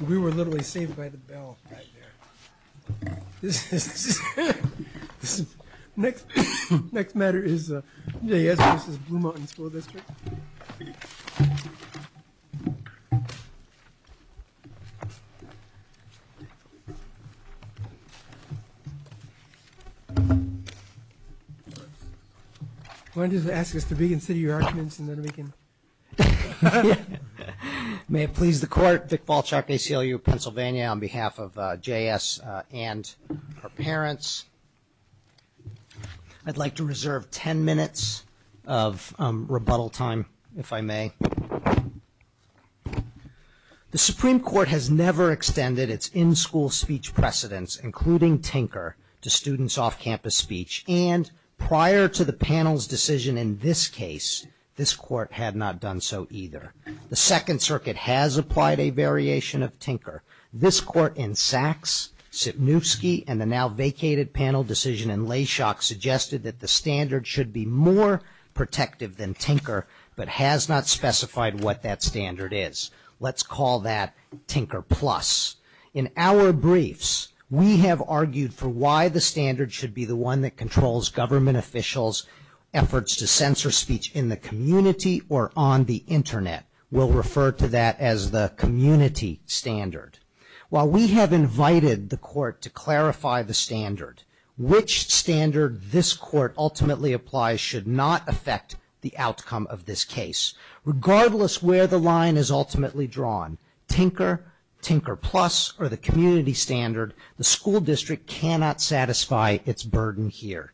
We were literally saved by the bell. May it please the court, Vic Balchuk, ACLU of Pennsylvania, on behalf of J.S. and her parents, I'd like to reserve 10 minutes of rebuttal time, if I may. The Supreme Court has never extended its in-school speech precedents, including tinker, to students off-campus speech, and prior to the panel's decision in this case, this court had not done so either. However, this court in Sachs, Sipniewski, and the now vacated panel decision in Layshock suggested that the standard should be more protective than tinker, but has not specified what that standard is. Let's call that tinker plus. In our briefs, we have argued for why the standard should be the one that controls government officials' efforts to censor speech in the community or on the internet. We'll refer to that as the community standard. While we have invited the court to clarify the standard, which standard this court ultimately applies should not affect the outcome of this case. Regardless where the line is ultimately drawn, tinker, tinker plus, or the community standard, the school district cannot satisfy its burden here.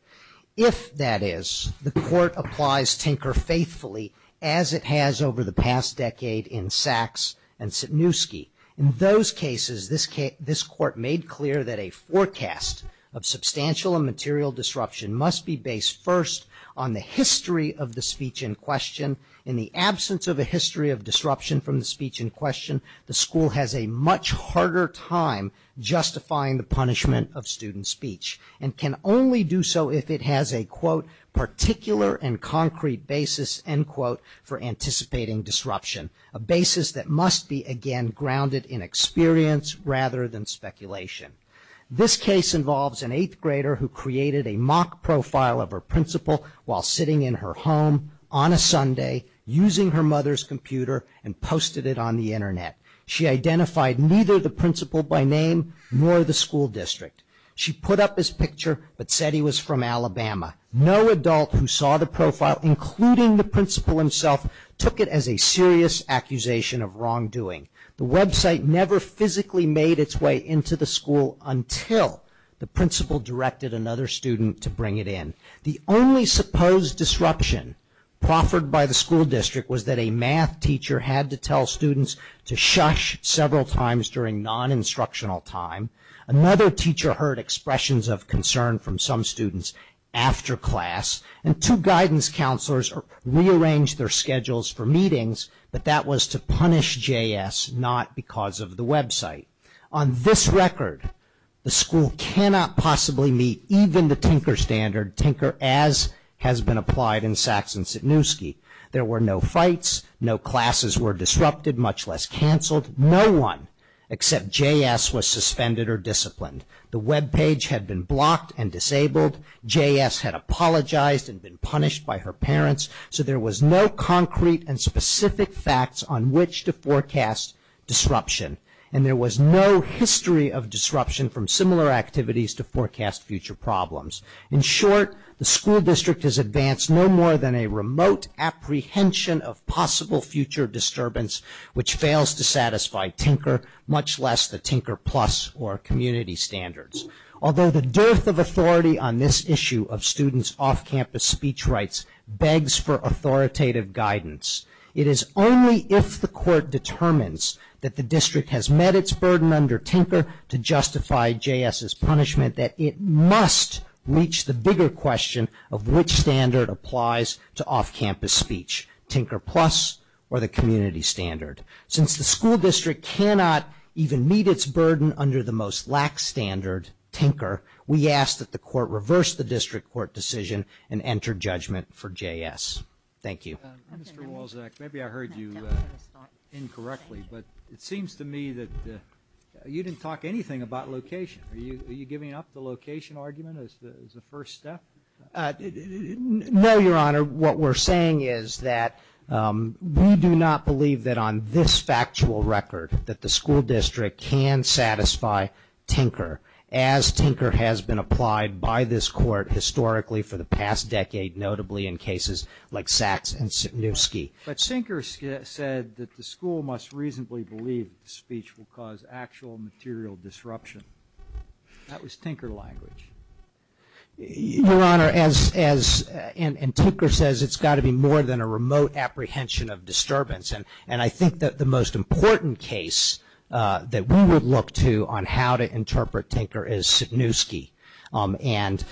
If that is, the court applies tinker faithfully as it has over the past decade in Sachs and Sipniewski. In those cases, this court made clear that a forecast of substantial and material disruption must be based first on the history of the speech in question. In the absence of a history of disruption from the speech in question, the school has a much harder time justifying the punishment of student speech and can only do so if it has a, quote, particular and concrete basis, end quote, for anticipating disruption. A basis that must be, again, grounded in experience rather than speculation. This case involves an eighth grader who created a mock profile of her principal while sitting in her home on a Sunday using her mother's computer and posted it on the internet. She identified neither the principal by name nor the school district. She put up his picture but said he was from Alabama. No adult who saw the profile, including the principal himself, took it as a serious accusation of wrongdoing. The website never physically made its way into the school until the principal directed another student to bring it in. The only supposed disruption proffered by the school district was that a math teacher had to tell students to shush several times during non-instructional time. Another teacher heard expressions of concern from some students after class. And two guidance counselors rearranged their schedules for meetings, but that was to punish JS, not because of the website. On this record, the school cannot possibly meet even the Tinker standard, Tinker as has been applied in Saxe and Sitniewski. There were no fights, no classes were disrupted, much less canceled, no one except JS was suspended or disciplined. The webpage had been blocked and disabled, JS had apologized and been punished by her parents, so there was no concrete and specific facts on which to forecast disruption. And there was no history of disruption from similar activities to forecast future problems. In short, the school district has advanced no more than a remote apprehension of possible future disturbance, which fails to satisfy Tinker, much less the Tinker Plus or Community Standards. Although the dearth of authority on this issue of students' off-campus speech rights begs for authoritative guidance, it is only if the court determines that the district has met its burden under Tinker to justify JS's punishment that it must reach the bigger question of which standard applies to off-campus speech, Tinker Plus or the Community Standard. Since the school district cannot even meet its burden under the most lax standard, Tinker, we ask that the court reverse the district court decision and enter judgment for JS. Thank you. Mr. Wolczak, maybe I heard you incorrectly, but it seems to me that you didn't talk anything about location. Are you giving up the location argument as the first step? No, Your Honor. What we're saying is that we do not believe that on this factual record that the school district can satisfy Tinker as Tinker has been applied by this court historically for the past decade, notably in cases like Sachs and Sitniewski. But Tinker said that the school must reasonably believe that speech will cause actual material disruption. That was Tinker language. Your Honor, as Tinker says, it's got to be more than a remote apprehension of disturbance. And I think that the most important case that we would look to on how to interpret Tinker is Sitniewski. And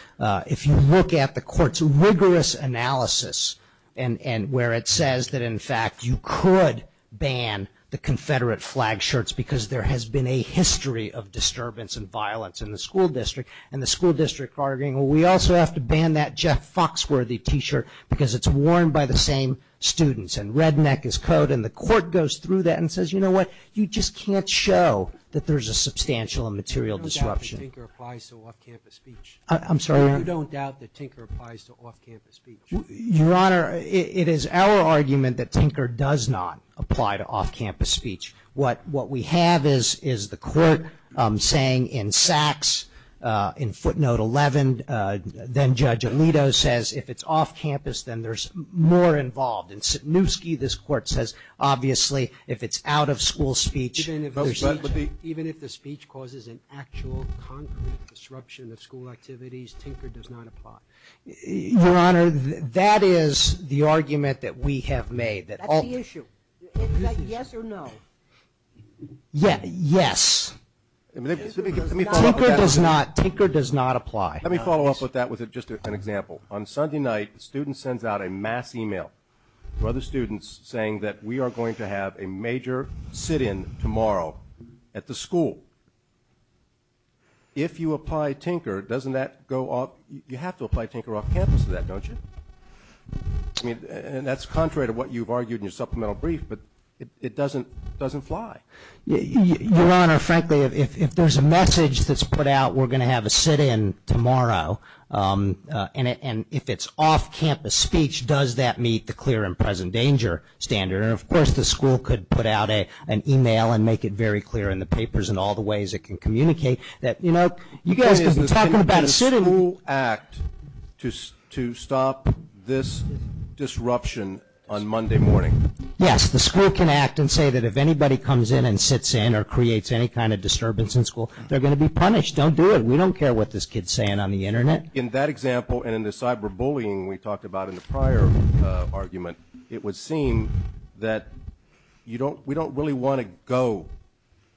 if you look at the court's rigorous analysis and where it says that, in fact, you could ban the Confederate flag shirts because there has been a history of disturbance and violence in the school district, and the school district arguing, well, we also have to ban that Jeff Foxworthy t-shirt because it's worn by the same students. And redneck is code, and the court goes through that and says, you know what, you just can't show that there's a substantial and material disruption. So you don't doubt that Tinker applies to off-campus speech? I'm sorry? You don't doubt that Tinker applies to off-campus speech? Your Honor, it is our argument that Tinker does not apply to off-campus speech. What we have is the court saying in Sachs, in footnote 11, then Judge Alito says if it's off-campus, then there's more involved. In Sitniewski, this court says, obviously, if it's out-of-school speech, there's speech. If it's speech which causes an actual, concrete disruption of school activities, Tinker does not apply. Your Honor, that is the argument that we have made. That's the issue. Is that yes or no? Yes. Tinker does not apply. Let me follow up with that with just an example. On Sunday night, a student sends out a mass email to other students saying that we are going to have a major sit-in tomorrow at the school. If you apply Tinker, you have to apply Tinker off-campus to that, don't you? That's contrary to what you've argued in your supplemental brief, but it doesn't fly. Your Honor, frankly, if there's a message that's put out, we're going to have a sit-in tomorrow, and if it's off-campus speech, does that meet the clear and present danger standard? Of course, the school could put out an email and make it very clear in the papers and all the ways it can communicate that, you know, you guys could be talking about a sit-in. Can the school act to stop this disruption on Monday morning? Yes, the school can act and say that if anybody comes in and sits in or creates any kind of disturbance in school, they're going to be punished. Don't do it. We don't care what this kid's saying on the Internet. In that example and in the cyberbullying we talked about in the prior argument, it would seem that we don't really want to go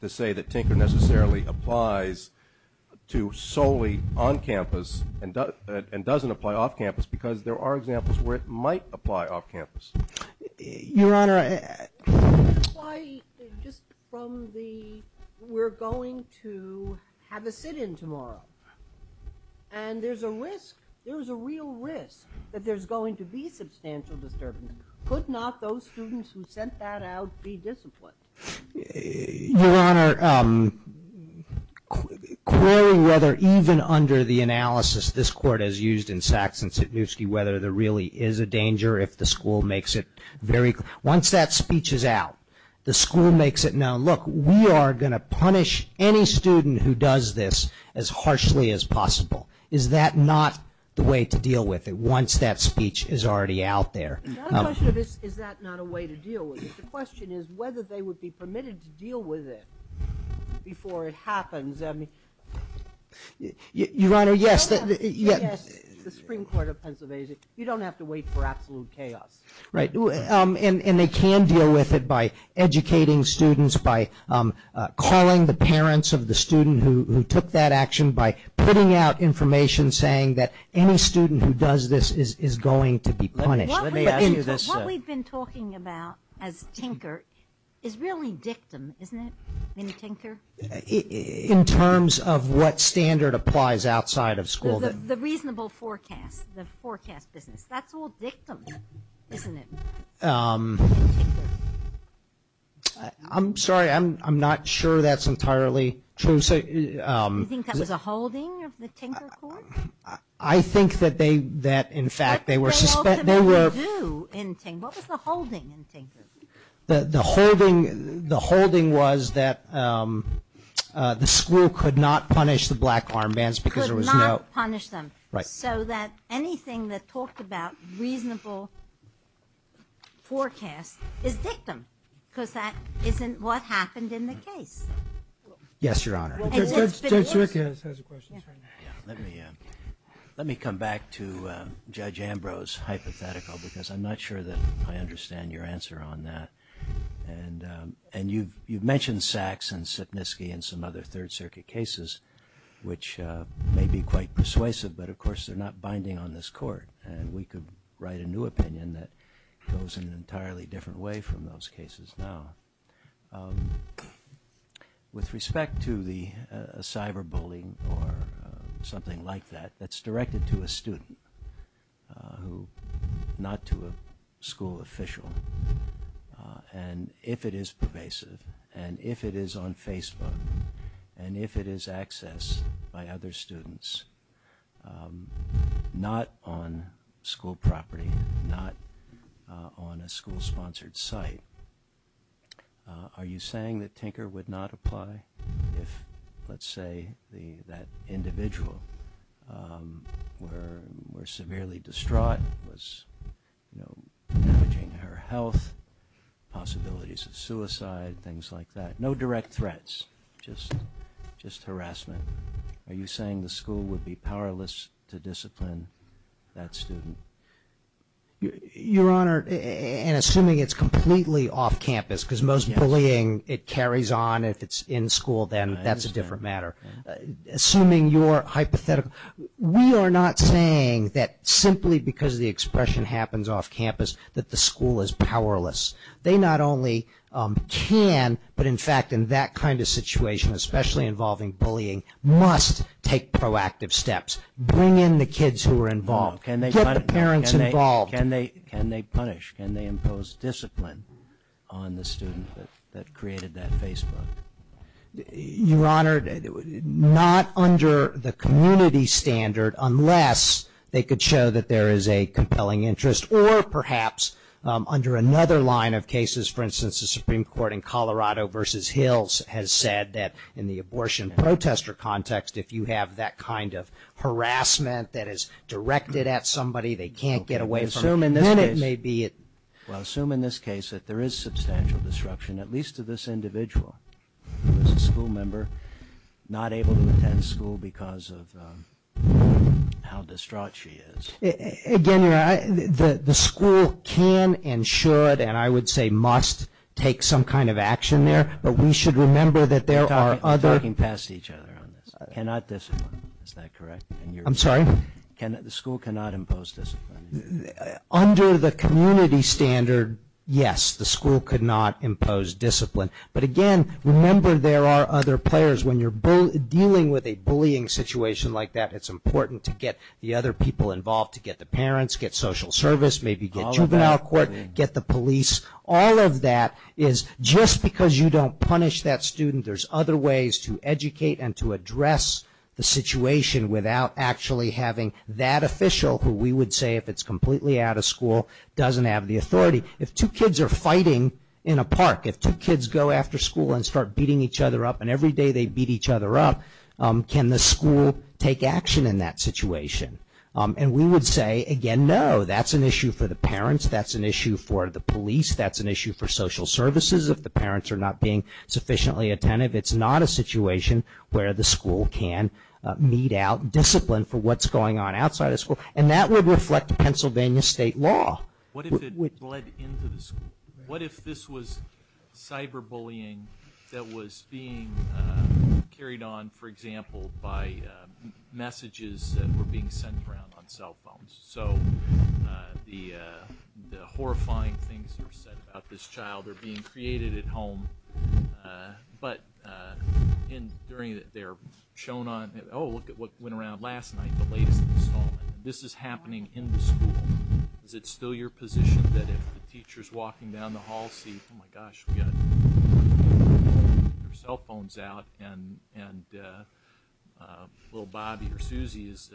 to say that Tinker necessarily applies to solely on-campus and doesn't apply off-campus, because there are examples where it might apply off-campus. Your Honor, I... I just... from the... we're going to have a sit-in tomorrow, and there's a risk, there's a real risk that there's going to be substantial disturbance. Could not those students who sent that out be disciplined? Your Honor, querying whether even under the analysis this Court has used in Sachs and Sitniewski whether there really is a danger if the school makes it very... once that speech is out, the school makes it known, look, we are going to punish any student who does this as harshly as possible. Is that not the way to deal with it, once that speech is already out there? Is that not a way to deal with it? The question is whether they would be permitted to deal with it before it happens. I mean... Your Honor, yes... Yes, the Supreme Court of Pennsylvania, you don't have to wait for absolute chaos. Right, and they can deal with it by educating students, by calling the parents of the student who took that action, by putting out information saying that any student who does this is going to be punished. Let me ask you this... What we've been talking about as Tinker is really dictum, isn't it, Minnie Tinker? In terms of what standard applies outside of school. The reasonable forecast, the forecast business. That's all dictum, isn't it? I'm sorry, I'm not sure that's entirely true. Do you think that was a holding of the Tinker Court? I think that they, that in fact, they were suspended... What was the holding in Tinker? The holding was that the school could not punish the black armbands because there was no... Could not punish them. Right. So that anything that talked about reasonable forecast is dictum because that isn't what happened in the case. Yes, Your Honor. Judge Zwick has a question. Let me come back to Judge Ambrose hypothetical because I'm not sure that I understand your answer on that and you've mentioned Sachs and Sipnisky and some other Third Circuit cases which may be quite persuasive, but of course, they're not binding on this court and we could write a new opinion that goes in an entirely different way from those cases now. With respect to the cyber bullying or something like that, that's directed to a student, not to a school official and if it is pervasive and if it is on Facebook and if it is accessed by other students, not on school property, not on a school-sponsored site, are you saying that Tinker would not apply if, let's say, that individual were severely distraught, was, you know, damaging her health, possibilities of suicide, things like that. No direct threats, just harassment. Are you saying the school would be powerless to discipline that student? Your Honor, and assuming it's completely off campus, because most bullying, it carries on if it's in school, then that's a different matter. Assuming your hypothetical, we are not saying that simply because the expression happens off campus that the school is powerless. They not only can, but in fact, in that kind of situation, especially involving bullying, must take proactive steps. Bring in the kids who are involved. Get the parents involved. Can they punish? Can they impose discipline on the student that created that Facebook? Your Honor, not under the community standard unless they could show that there is a compelling interest or perhaps under another line of cases. For instance, the Supreme Court in Colorado versus Hills has said that in the abortion protester context, if you have that kind of harassment that is directed at somebody, they can't get away from it. Assume in this case that there is substantial disruption, at least to this individual, who is a school member, not able to attend school because of how distraught she is. Again, Your Honor, the school can and should, and I would say must, take some kind of action there. But we should remember that there are other... You're talking past each other on this. Cannot discipline. Is that correct? I'm sorry? The school cannot impose discipline. Under the community standard, yes, the school could not impose discipline. But again, remember there are other players. When you're dealing with a bullying situation like that, it's important to get the other people involved, to get the parents, get social service, maybe get juvenile court, get the police. All of that is just because you don't punish that student. There's other ways to educate and to address the situation without actually having that official who we would say, if it's completely out of school, doesn't have the authority. If two kids are fighting in a park, if two kids go after school and start beating each other up, and every day they beat each other up, can the school take action in that situation? And we would say, again, no. That's an issue for the parents. That's an issue for the police. That's an issue for social services if the parents are not being sufficiently attentive. It's not a situation where the school can mete out discipline for what's going on outside of school. And that would reflect Pennsylvania state law. What if it bled into the school? What if this was cyberbullying that was being carried on, for example, by messages that were being sent around on cell phones? So the horrifying things that were said about this child are being created at home. But they're shown on, oh, look at what went around last night, the latest installment. This is happening in the school. Is it still your position that if the teacher's walking down the hall, see, oh my gosh, we and little Bobby or Susie is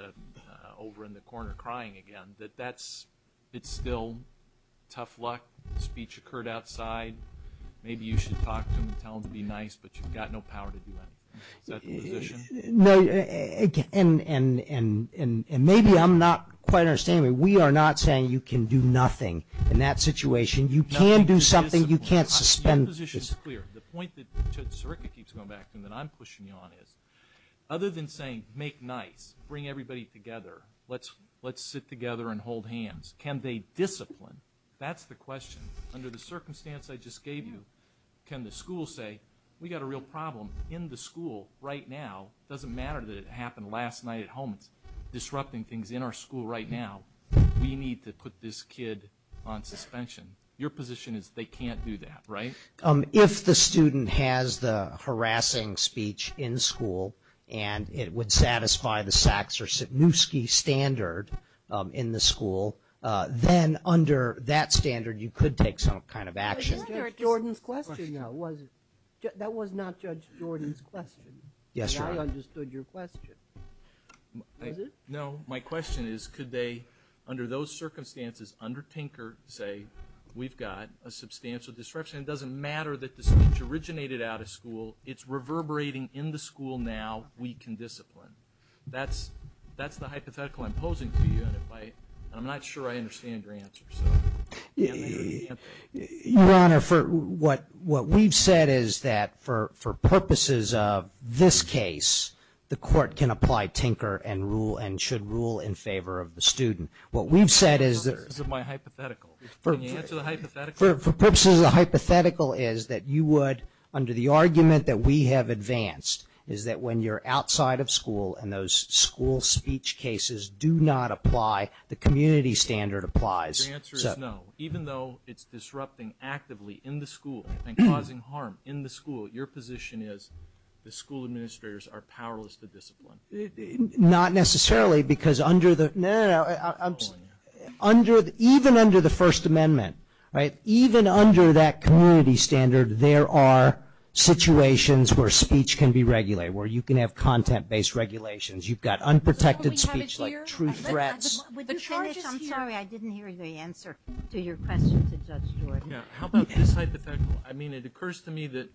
over in the corner crying again, that that's, it's still tough luck. Speech occurred outside. Maybe you should talk to them and tell them to be nice, but you've got no power to do anything. Is that the position? No. And maybe I'm not quite understanding. We are not saying you can do nothing in that situation. You can do something. You can't suspend. Your position is clear. The point that Judge Sirica keeps going back to and that I'm pushing you on is, other than saying make nice, bring everybody together, let's sit together and hold hands, can they discipline? That's the question. Under the circumstance I just gave you, can the school say, we've got a real problem in the school right now, doesn't matter that it happened last night at home, it's disrupting things in our school right now, we need to put this kid on suspension. Your position is they can't do that, right? If the student has the harassing speech in school and it would satisfy the Saks or Sikniewski standard in the school, then under that standard you could take some kind of action. That was Judge Jordan's question, though, wasn't it? That was not Judge Jordan's question. Yes, Your Honor. I understood your question. Was it? No. My question is, could they, under those circumstances, under Tinker, say, we've got a substantial disruption, it doesn't matter that the speech originated out of school, it's reverberating in the school now, we can discipline. That's the hypothetical I'm posing to you, and I'm not sure I understand your answer. Your Honor, what we've said is that for purposes of this case, the court can apply Tinker and rule and should rule in favor of the student. What we've said is that... Can you answer the hypothetical? For purposes of the hypothetical is that you would, under the argument that we have advanced, is that when you're outside of school and those school speech cases do not apply, the community standard applies. Your answer is no. Even though it's disrupting actively in the school and causing harm in the school, your position is the school administrators are powerless to discipline. Not necessarily, because under the... No, no, no. Even under the First Amendment, even under that community standard, there are situations where speech can be regulated, where you can have content-based regulations. You've got unprotected speech, like true threats. Would you finish? I'm sorry, I didn't hear the answer to your question to Judge Jordan. How about this hypothetical? I mean, it occurs to me that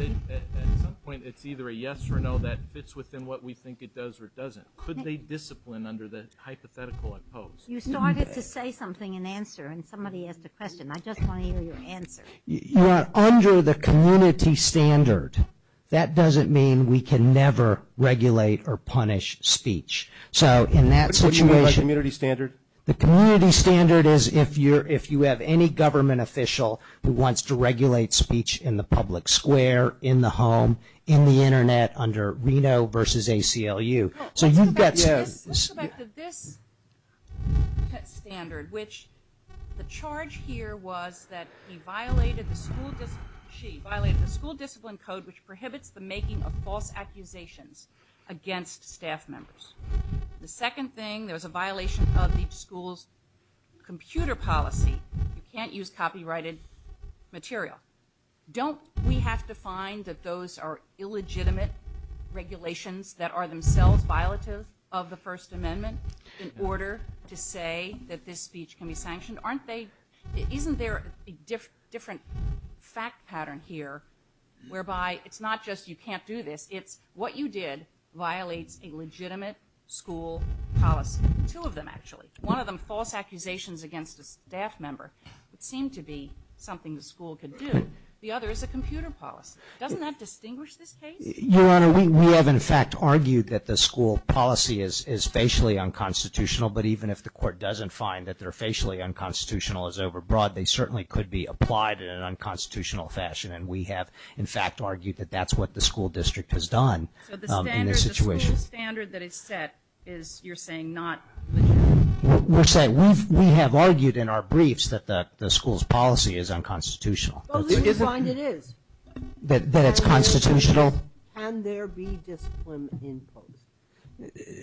at some point, it's either a yes or no that fits within what we think it does or doesn't. Could they discipline under the hypothetical I pose? You started to say something in answer, and somebody asked a question. I just want to hear your answer. You are under the community standard. That doesn't mean we can never regulate or punish speech. So in that situation... What do you mean by community standard? The community standard is if you have any government official who wants to regulate speech in the public square, in the home, in the internet, under Reno versus ACLU. Let's go back to this standard, which the charge here was that he violated the school discipline code, which prohibits the making of false accusations against staff members. The second thing, there was a violation of each school's computer policy. Don't we have to find that those are illegitimate regulations that are themselves violative of the First Amendment in order to say that this speech can be sanctioned? Isn't there a different fact pattern here, whereby it's not just you can't do this, it's what you did violates a legitimate school policy? Two of them, actually. One of them, false accusations against a staff member, would seem to be something the school could do. The other is a computer policy. Doesn't that distinguish this case? Your Honor, we have, in fact, argued that the school policy is facially unconstitutional, but even if the court doesn't find that they're facially unconstitutional as overbroad, they certainly could be applied in an unconstitutional fashion, and we have, in fact, argued that that's what the school district has done in this situation. So the standard, the school standard that is set is, you're saying, not legitimate? We're saying we have argued in our briefs that the school's policy is unconstitutional. But who can find it is? That it's constitutional? Can there be discipline imposed?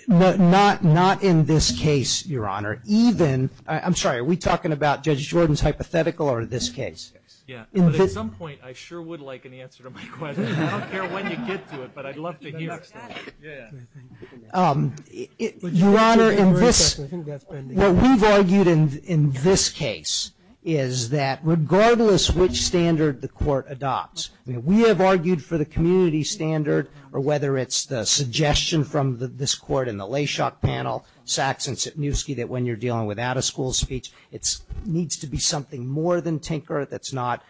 Not in this case, Your Honor. Even, I'm sorry, are we talking about Judge Jordan's hypothetical or this case? At some point, I sure would like an answer to my question. I don't care when you get to it, but I'd love to hear it. Your Honor, in this, what we've argued in this case is that regardless which standard the court adopts, we have argued for the community standard, or whether it's the suggestion from this court in the Layshock panel, Sachs and Sitniewski, that when you're dealing with out-of-school speech, it needs to be something more than tinker, it's not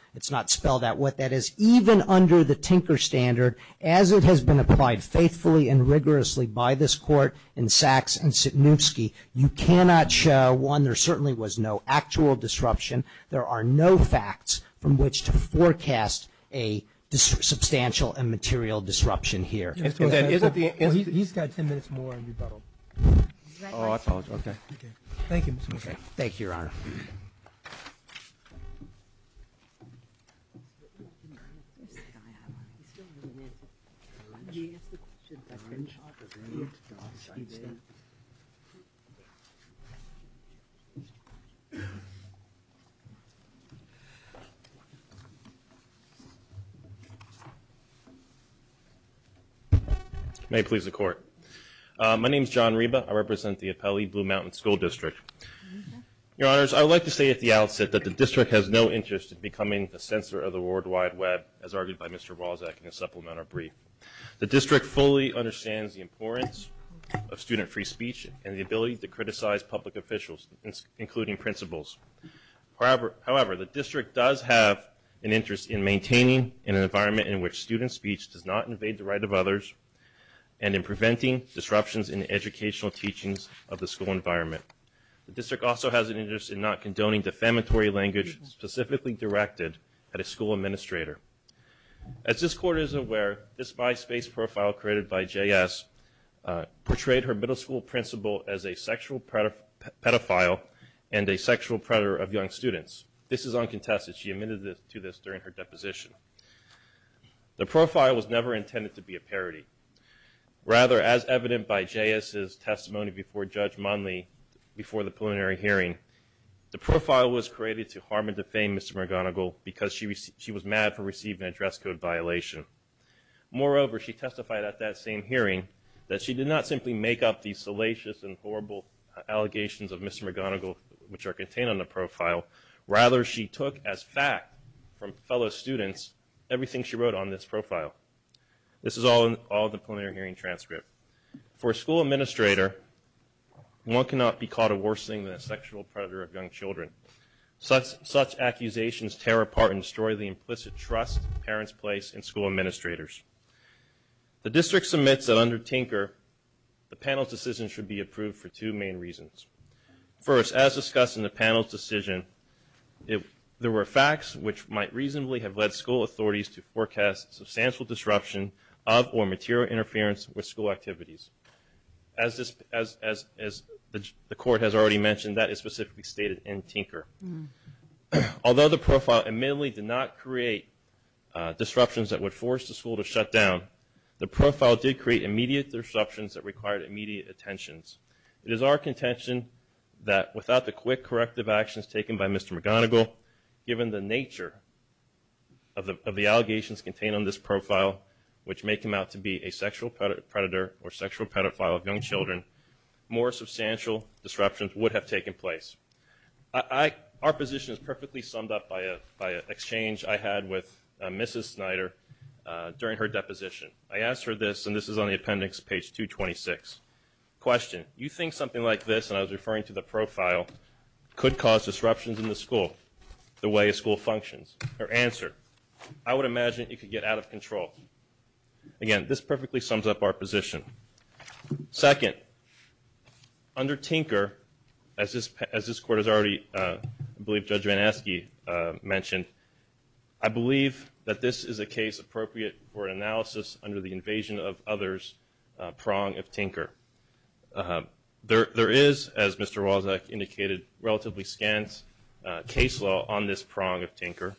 spelled out, what that is, even under the tinker standard, as it has been applied faithfully and rigorously by this court in Sachs and Sitniewski, you cannot show, one, there certainly was no actual disruption, there are no facts from which to forecast a substantial and material disruption here. He's got ten minutes more in rebuttal. Oh, that's all, okay. Thank you. Thank you, Your Honor. Thank you. May it please the Court. My name's John Reba. I represent the Appelli Blue Mountain School District. Your Honors, I would like to say at the outset that the district has no interest in becoming a censor of the World Wide Web, as argued by Mr. Walczak in his supplemental brief. The district fully understands the importance of student free speech and the ability to criticize public officials, including principals. However, the district does have an interest in maintaining an environment and in preventing disruptions in educational teachings of the school environment. The district also has an interest in not condoning defamatory language specifically directed at a school administrator. As this Court is aware, this MySpace profile created by JS portrayed her middle school principal as a sexual pedophile and a sexual predator of young students. This is uncontested. She admitted to this during her deposition. The profile was never intended to be a parody. Rather, as evident by JS's testimony before Judge Monley before the preliminary hearing, the profile was created to harm and defame Mr. McGonigal because she was mad for receiving an address code violation. Moreover, she testified at that same hearing that she did not simply make up these salacious and horrible allegations of Mr. McGonigal, which are contained on the profile. Rather, she took as fact from fellow students everything she wrote on this profile. This is all in the preliminary hearing transcript. For a school administrator, one cannot be called a worse thing than a sexual predator of young children. Such accusations tear apart and destroy the implicit trust parents place in school administrators. The district submits that under Tinker, the panel's decision should be approved for two main reasons. First, as discussed in the panel's decision, there were facts which might reasonably have led school authorities to forecast substantial disruption of or material interference with school activities. As the court has already mentioned, that is specifically stated in Tinker. Although the profile admittedly did not create disruptions that would force the school to shut down, the profile did create immediate disruptions that required immediate attention. It is our contention that without the quick corrective actions taken by Mr. McGonigal, given the nature of the allegations contained on this profile, which may come out to be a sexual predator or sexual pedophile of young children, more substantial disruptions would have taken place. Our position is perfectly summed up by an exchange I had with Mrs. Snyder during her deposition. I asked her this, and this is on the appendix, page 226. Question, you think something like this, and I was referring to the profile, could cause disruptions in the school, the way a school functions. Her answer, I would imagine it could get out of control. Again, this perfectly sums up our position. Second, under Tinker, as this court has already, I believe Judge Van Aske mentioned, I believe that this is a case appropriate for analysis under the invasion of others prong of Tinker. There is, as Mr. Wozniak indicated, relatively scant case law on this prong of Tinker.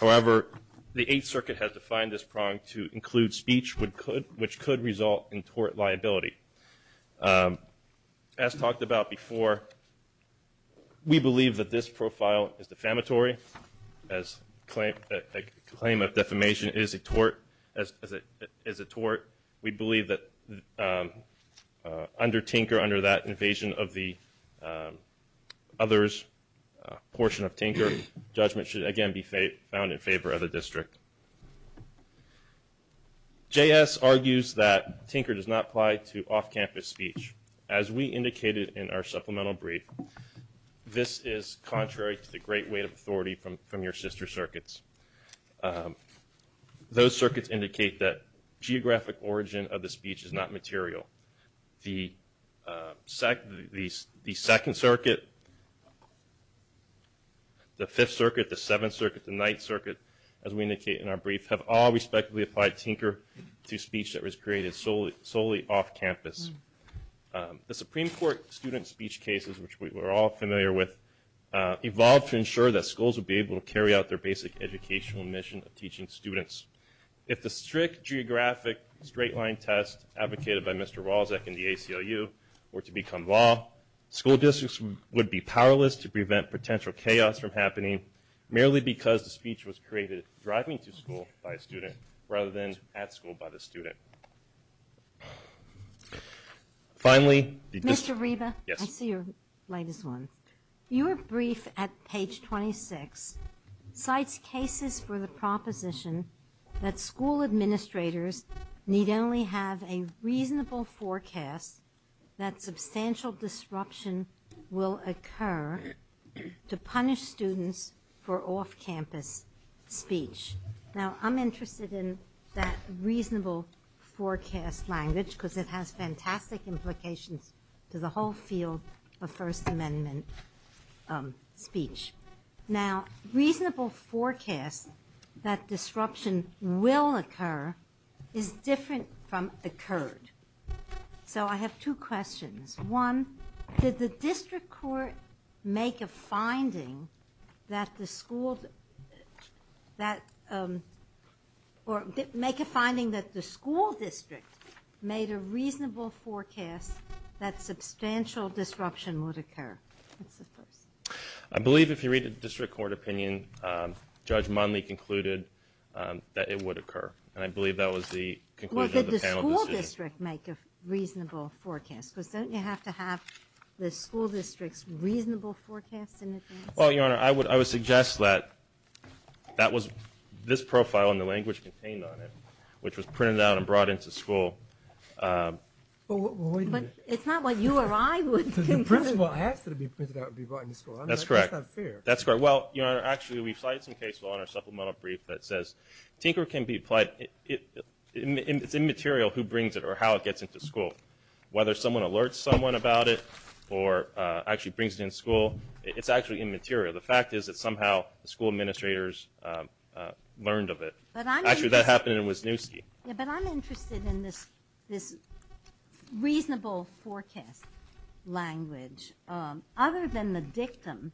However, the Eighth Circuit has defined this prong to include speech which could result in tort liability. As talked about before, we believe that this profile is defamatory. As a claim of defamation is a tort, we believe that under Tinker, under that invasion of the others portion of Tinker, judgment should again be found in favor of the district. J.S. argues that Tinker does not apply to off-campus speech. As we indicated in our supplemental brief, this is contrary to the great weight of authority from your sister circuits. Those circuits indicate that geographic origin of the speech is not material. The Second Circuit, the Fifth Circuit, the Seventh Circuit, the Ninth Circuit, as we indicate in our brief, have all respectively applied Tinker to speech that was created solely off-campus. The Supreme Court student speech cases, which we're all familiar with, evolved to ensure that schools would be able to carry out their basic educational mission of teaching students. If the strict geographic straight-line test advocated by Mr. Wozniak in the ACLU were to become law, school districts would be powerless to prevent potential chaos from happening, merely because the speech was created driving to school by a student rather than at school by the student. Finally, the district... Mr. Reba? Yes. I see your light is on. Your brief at page 26 cites cases for the proposition that school administrators need only have a reasonable forecast that substantial disruption will occur to punish students for off-campus speech. Now, I'm interested in that reasonable forecast language, because it has fantastic implications to the whole field of First Amendment speech. Now, reasonable forecast that disruption will occur is different from occurred. So I have two questions. One, did the district court make a finding that the school district made a reasonable forecast that substantial disruption would occur? That's the first. I believe if you read the district court opinion, Judge Monley concluded that it would occur, and I believe that was the conclusion of the panel decision. Well, did the school district make a reasonable forecast? Because don't you have to have the school district's reasonable forecast in advance? Well, Your Honor, I would suggest that that was this profile and the language contained on it, which was printed out and brought into school. But it's not what you or I would conclude. The principal asked that it be printed out and brought into school. That's correct. That's not fair. That's correct. Well, Your Honor, actually we've cited some case law in our supplemental brief that says tinker can be applied. It's immaterial who brings it or how it gets into school. Whether someone alerts someone about it or actually brings it in school, it's actually immaterial. The fact is that somehow the school administrators learned of it. Actually, that happened in Wisniewski. Yeah, but I'm interested in this reasonable forecast language. Other than the dictum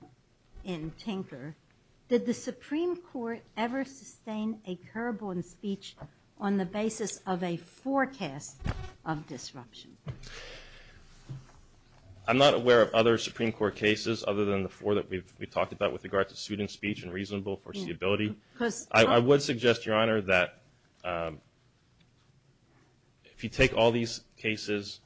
in tinker, did the Supreme Court ever sustain a curb on speech on the basis of a forecast of disruption? I'm not aware of other Supreme Court cases other than the four that we've talked about with regard to student speech and reasonable foreseeability. I would suggest, Your Honor, that if you take all these cases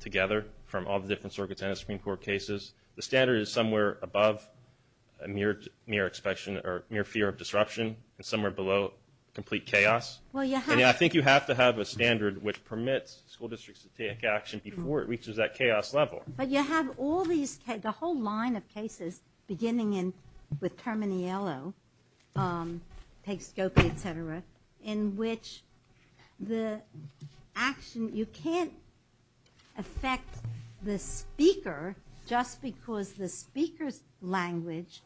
together from all the different circuits and Supreme Court cases, the standard is somewhere above mere fear of disruption and somewhere below complete chaos. I think you have to have a standard which permits school districts to take action before it reaches that chaos level. But you have all these cases, the whole line of cases, beginning with Terminiello, takes Scope, et cetera, in which the action, you can't affect the speaker just because the speaker's language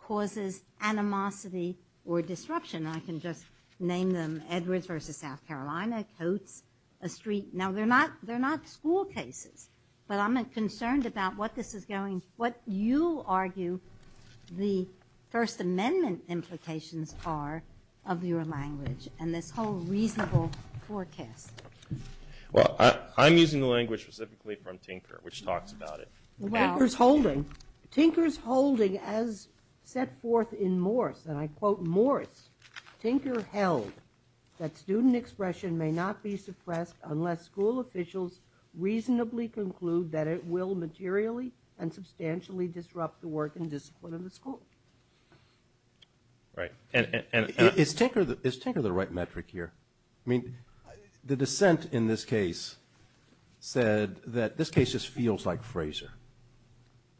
causes animosity or disruption. I can just name them, Edwards versus South Carolina, Coates, a street. Now, they're not school cases, but I'm concerned about what this is going, what you argue the First Amendment implications are of your language and this whole reasonable forecast. Well, I'm using the language specifically from tinker, which talks about it. Tinker's holding, as set forth in Morse, and I quote Morse, Tinker held that student expression may not be suppressed unless school officials reasonably conclude that it will materially and substantially disrupt the work and discipline of the school. Right. Is tinker the right metric here? I mean, the dissent in this case said that this case just feels like Fraser.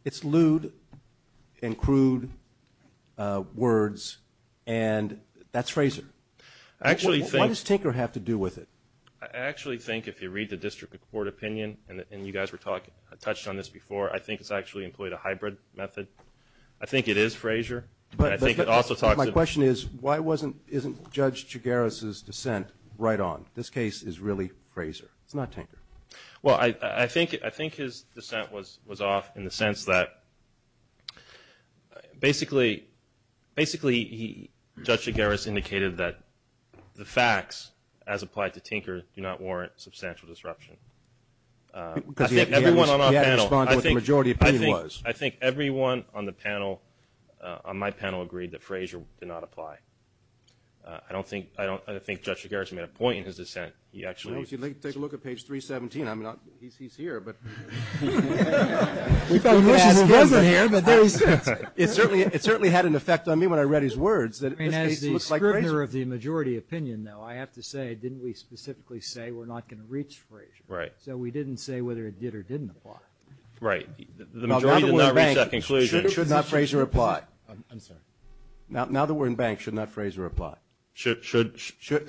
It's lewd and crude words, and that's Fraser. Why does tinker have to do with it? I actually think if you read the district court opinion, and you guys were talking, I touched on this before, I think it's actually employed a hybrid method. I think it is Fraser. But my question is, why isn't Judge Chigares' dissent right on? This case is really Fraser. It's not tinker. Well, I think his dissent was off in the sense that basically Judge Chigares indicated that the facts, as applied to tinker, do not warrant substantial disruption. Because he had to respond to what the majority opinion was. I think everyone on the panel, on my panel, agreed that Fraser did not apply. I don't think Judge Chigares made a point in his dissent. Well, if you take a look at page 317, I mean, he's here, but. It certainly had an effect on me when I read his words. I mean, as the scrivener of the majority opinion, though, I have to say, didn't we specifically say we're not going to reach Fraser? Right. So we didn't say whether it did or didn't apply. Right. The majority did not reach that conclusion. Should not Fraser apply? I'm sorry. Now that we're in bank, should not Fraser apply? Should.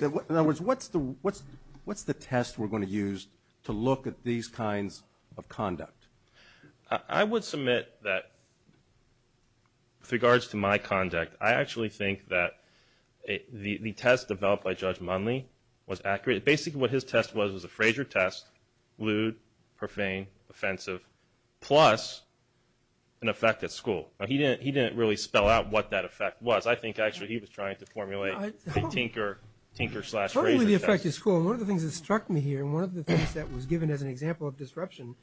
In other words, what's the test we're going to use to look at these kinds of conduct? I would submit that, with regards to my conduct, I actually think that the test developed by Judge Munley was accurate. Basically, what his test was was a Fraser test, lewd, profane, offensive, plus an effect at school. He didn't really spell out what that effect was. I think, actually, he was trying to formulate a tinker slash Fraser test. Partly the effect at school. One of the things that struck me here, and one of the things that was given as an example of disruption,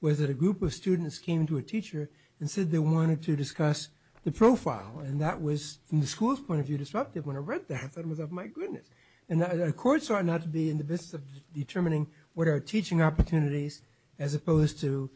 was that a group of students came to a teacher and said they wanted to discuss the profile. And that was, from the school's point of view, disruptive. When I read that, I thought, my goodness. And the court sought not to be in the business of determining what are teaching opportunities as opposed to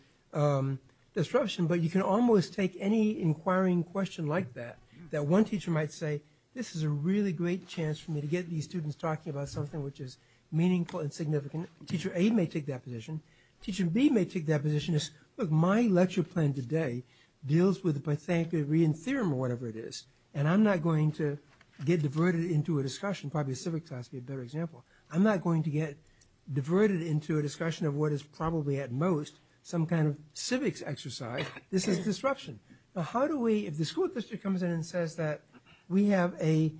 disruption, but you can almost take any inquiring question like that, that one teacher might say, this is a really great chance for me to get these students talking about something which is meaningful and significant. Teacher A may take that position. Teacher B may take that position. Look, my lecture plan today deals with the Pythagorean theorem or whatever it is, and I'm not going to get diverted into a discussion. Probably a civics class would be a better example. I'm not going to get diverted into a discussion of what is probably, at most, some kind of civics exercise. This is disruption. Now, how do we, if the school district comes in and says that we have a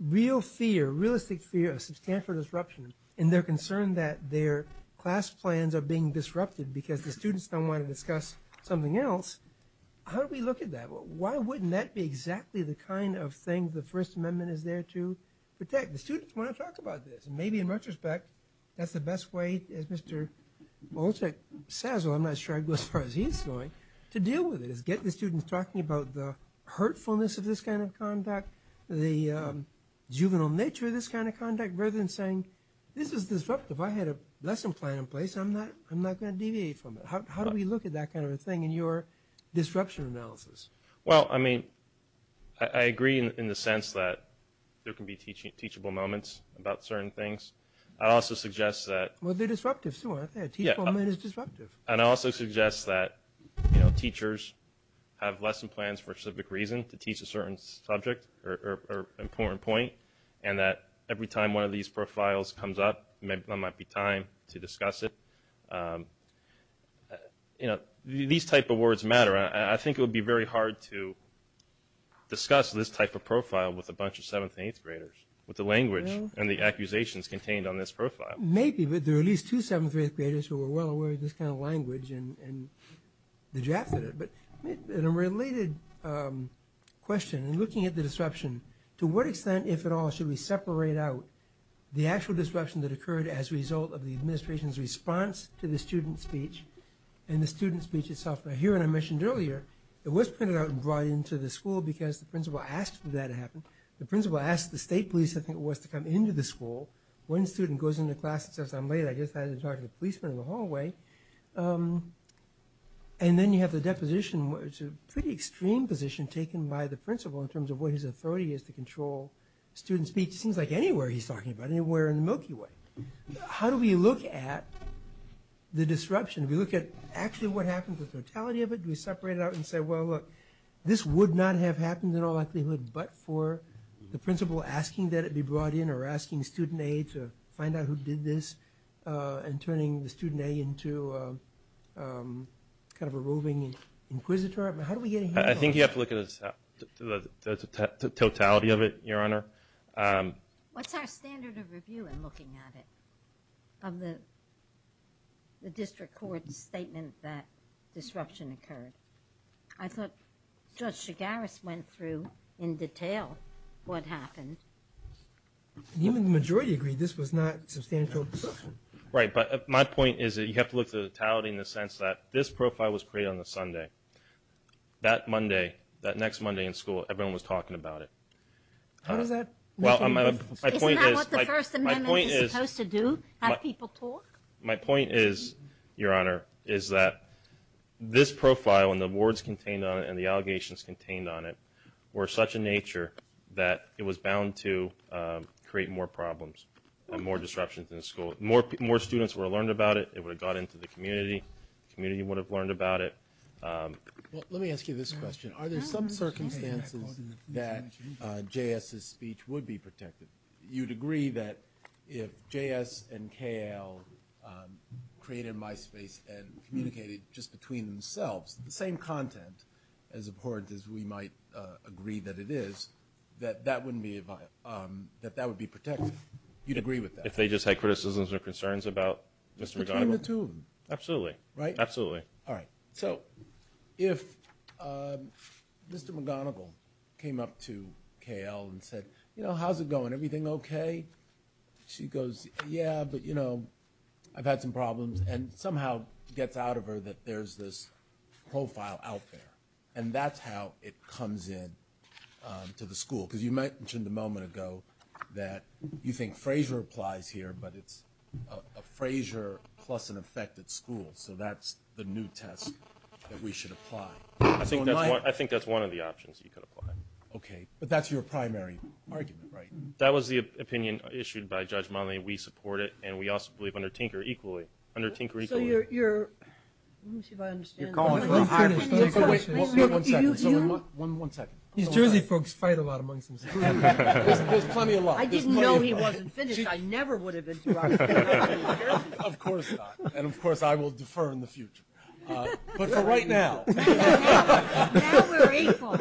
real fear, realistic fear of substantial disruption, and they're concerned that their class plans are being disrupted because the students don't want to discuss something else, how do we look at that? Why wouldn't that be exactly the kind of thing the First Amendment is there to protect? The students want to talk about this, and maybe in retrospect, that's the best way, as Mr. Wolchek says, although I'm not sure I'd go as far as he's going, to deal with it, is get the students talking about the hurtfulness of this kind of conduct, the juvenile nature of this kind of conduct, rather than saying, this is disruptive. I had a lesson plan in place. I'm not going to deviate from it. How do we look at that kind of a thing in your disruption analysis? Well, I mean, I agree in the sense that there can be teachable moments about certain things. I'd also suggest that... Well, they're disruptive, too, aren't they? A teachable moment is disruptive. And I also suggest that teachers have lesson plans for a specific reason to teach a certain subject or important point, and that every time one of these profiles comes up, there might be time to discuss it. These type of words matter. I think it would be very hard to discuss this type of profile with a bunch of 7th and 8th graders, with the language and the accusations contained on this profile. Maybe, but there are at least two 7th and 8th graders who are well aware of this kind of language and the draft of it. But in a related question, in looking at the disruption, to what extent, if at all, should we separate out the actual disruption that occurred as a result of the administration's response to the student speech and the student speech itself? Now, here, and I mentioned earlier, it was printed out and brought into the school because the principal asked for that to happen. The principal asked the state police, I think it was, to come into the school. One student goes into class and says, I'm late, I just had to talk to the policeman in the hallway. And then you have the deposition. It's a pretty extreme position taken by the principal in terms of what his authority is to control student speech. It seems like anywhere he's talking about it, anywhere in the Milky Way. How do we look at the disruption? Do we look at actually what happened, the totality of it? Do we separate it out and say, well, look, this would not have happened in all likelihood but for the principal asking that it be brought in or asking student aid to find out who did this and turning the student aid into kind of a roving inquisitor? How do we get a handle on that? I think you have to look at the totality of it, Your Honor. What's our standard of review in looking at it of the district court's statement that disruption occurred? I thought Judge Chigaris went through in detail what happened. Even the majority agreed this was not substantial disruption. Right, but my point is that you have to look at the totality in the sense that this profile was created on a Sunday. That Monday, that next Monday in school, everyone was talking about it. What does that mean? Isn't that what the First Amendment is supposed to do, have people talk? My point is, Your Honor, is that this profile and the words contained on it and the allegations contained on it were such a nature that it was bound to create more problems and more disruptions in the school. More students would have learned about it. It would have got into the community. The community would have learned about it. Let me ask you this question. Are there some circumstances that J.S.'s speech would be protected? You'd agree that if J.S. and K.L. created MySpace and communicated just between themselves, the same content as important as we might agree that it is, that that would be protected? You'd agree with that? If they just had criticisms or concerns about Mr. McGonigal? Between the two of them. Absolutely. Right? Absolutely. All right, so if Mr. McGonigal came up to K.L. and said, You know, how's it going? Everything okay? She goes, Yeah, but, you know, I've had some problems. And somehow gets out of her that there's this profile out there. And that's how it comes in to the school. Because you mentioned a moment ago that you think Frazier applies here, but it's a Frazier plus an affected school. So that's the new test that we should apply. I think that's one of the options you could apply. Okay. But that's your primary argument, right? That was the opinion issued by Judge Monley. We support it. And we also believe under Tinker equally. Under Tinker equally. So you're, let me see if I understand. You're calling for a hybrid. One second. One second. These Jersey folks fight a lot amongst themselves. There's plenty of love. I didn't know he wasn't finished. I never would have been surprised. Of course not. And, of course, I will defer in the future. But for right now. Now we're equal.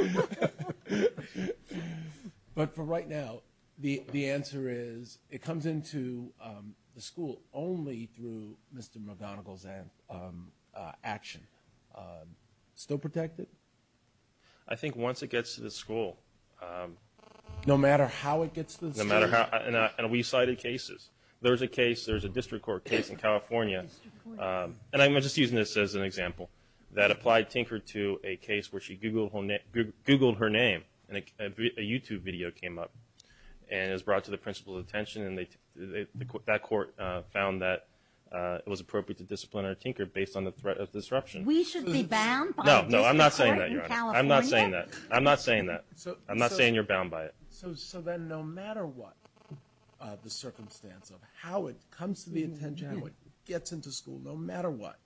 But for right now, the answer is, it comes in to the school only through Mr. McGonigal's action. Still protected? I think once it gets to the school. No matter how it gets to the school? No matter how. And we cited cases. There's a case, there's a district court case in California. And I'm just using this as an example. That applied Tinker to a case where she Googled her name. And a YouTube video came up. And it was brought to the principal's attention. And that court found that it was appropriate to discipline her, Tinker, based on the threat of disruption. We should be bound by the district court in California? No, I'm not saying that, Your Honor. I'm not saying that. I'm not saying that. I'm not saying you're bound by it. So then no matter what the circumstance of how it comes to the attention, how it gets into school, no matter what,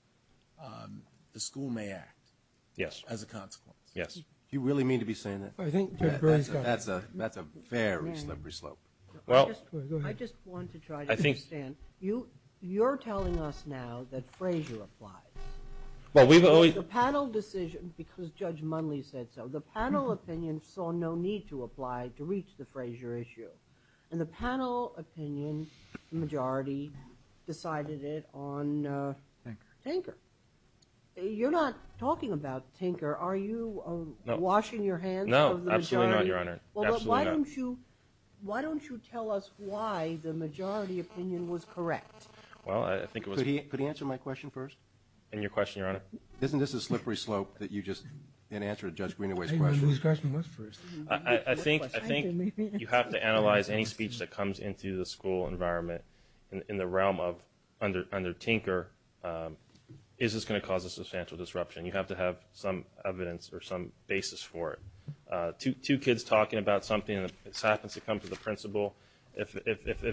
the school may act. Yes. As a consequence. Yes. Do you really mean to be saying that? That's a very slippery slope. I just want to try to understand. You're telling us now that Frazier applied. The panel decision, because Judge Munley said so, the panel opinion saw no need to apply to reach the Frazier issue. And the panel opinion majority decided it on Tinker. You're not talking about Tinker. Are you washing your hands of the majority? No, absolutely not, Your Honor. Absolutely not. Why don't you tell us why the majority opinion was correct? Well, I think it was. Could he answer my question first? And your question, Your Honor? Isn't this a slippery slope that you just didn't answer Judge Greenaway's question? I didn't know whose question was first. I think you have to analyze any speech that comes into the school environment in the realm of under Tinker. Is this going to cause a substantial disruption? You have to have some evidence or some basis for it. Two kids talking about something that happens to come to the principal, if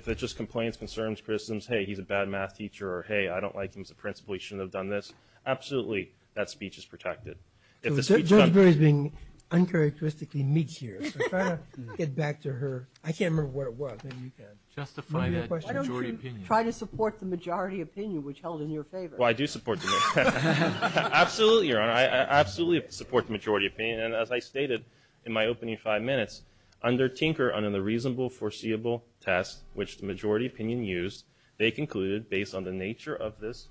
it just complains, concerns, criticizes, hey, he's a bad math teacher, or hey, I don't like him as a principal, he shouldn't have done this, absolutely that speech is protected. Judge Greenaway is being uncharacteristically meek here. I'm trying to get back to her. I can't remember what it was. Maybe you can. Justify that majority opinion. Why don't you try to support the majority opinion which held in your favor? Well, I do support the majority opinion. Absolutely, Your Honor. I absolutely support the majority opinion. And as I stated in my opening five minutes, under Tinker, under the reasonable foreseeable test which the majority opinion used, they concluded, based on the nature of this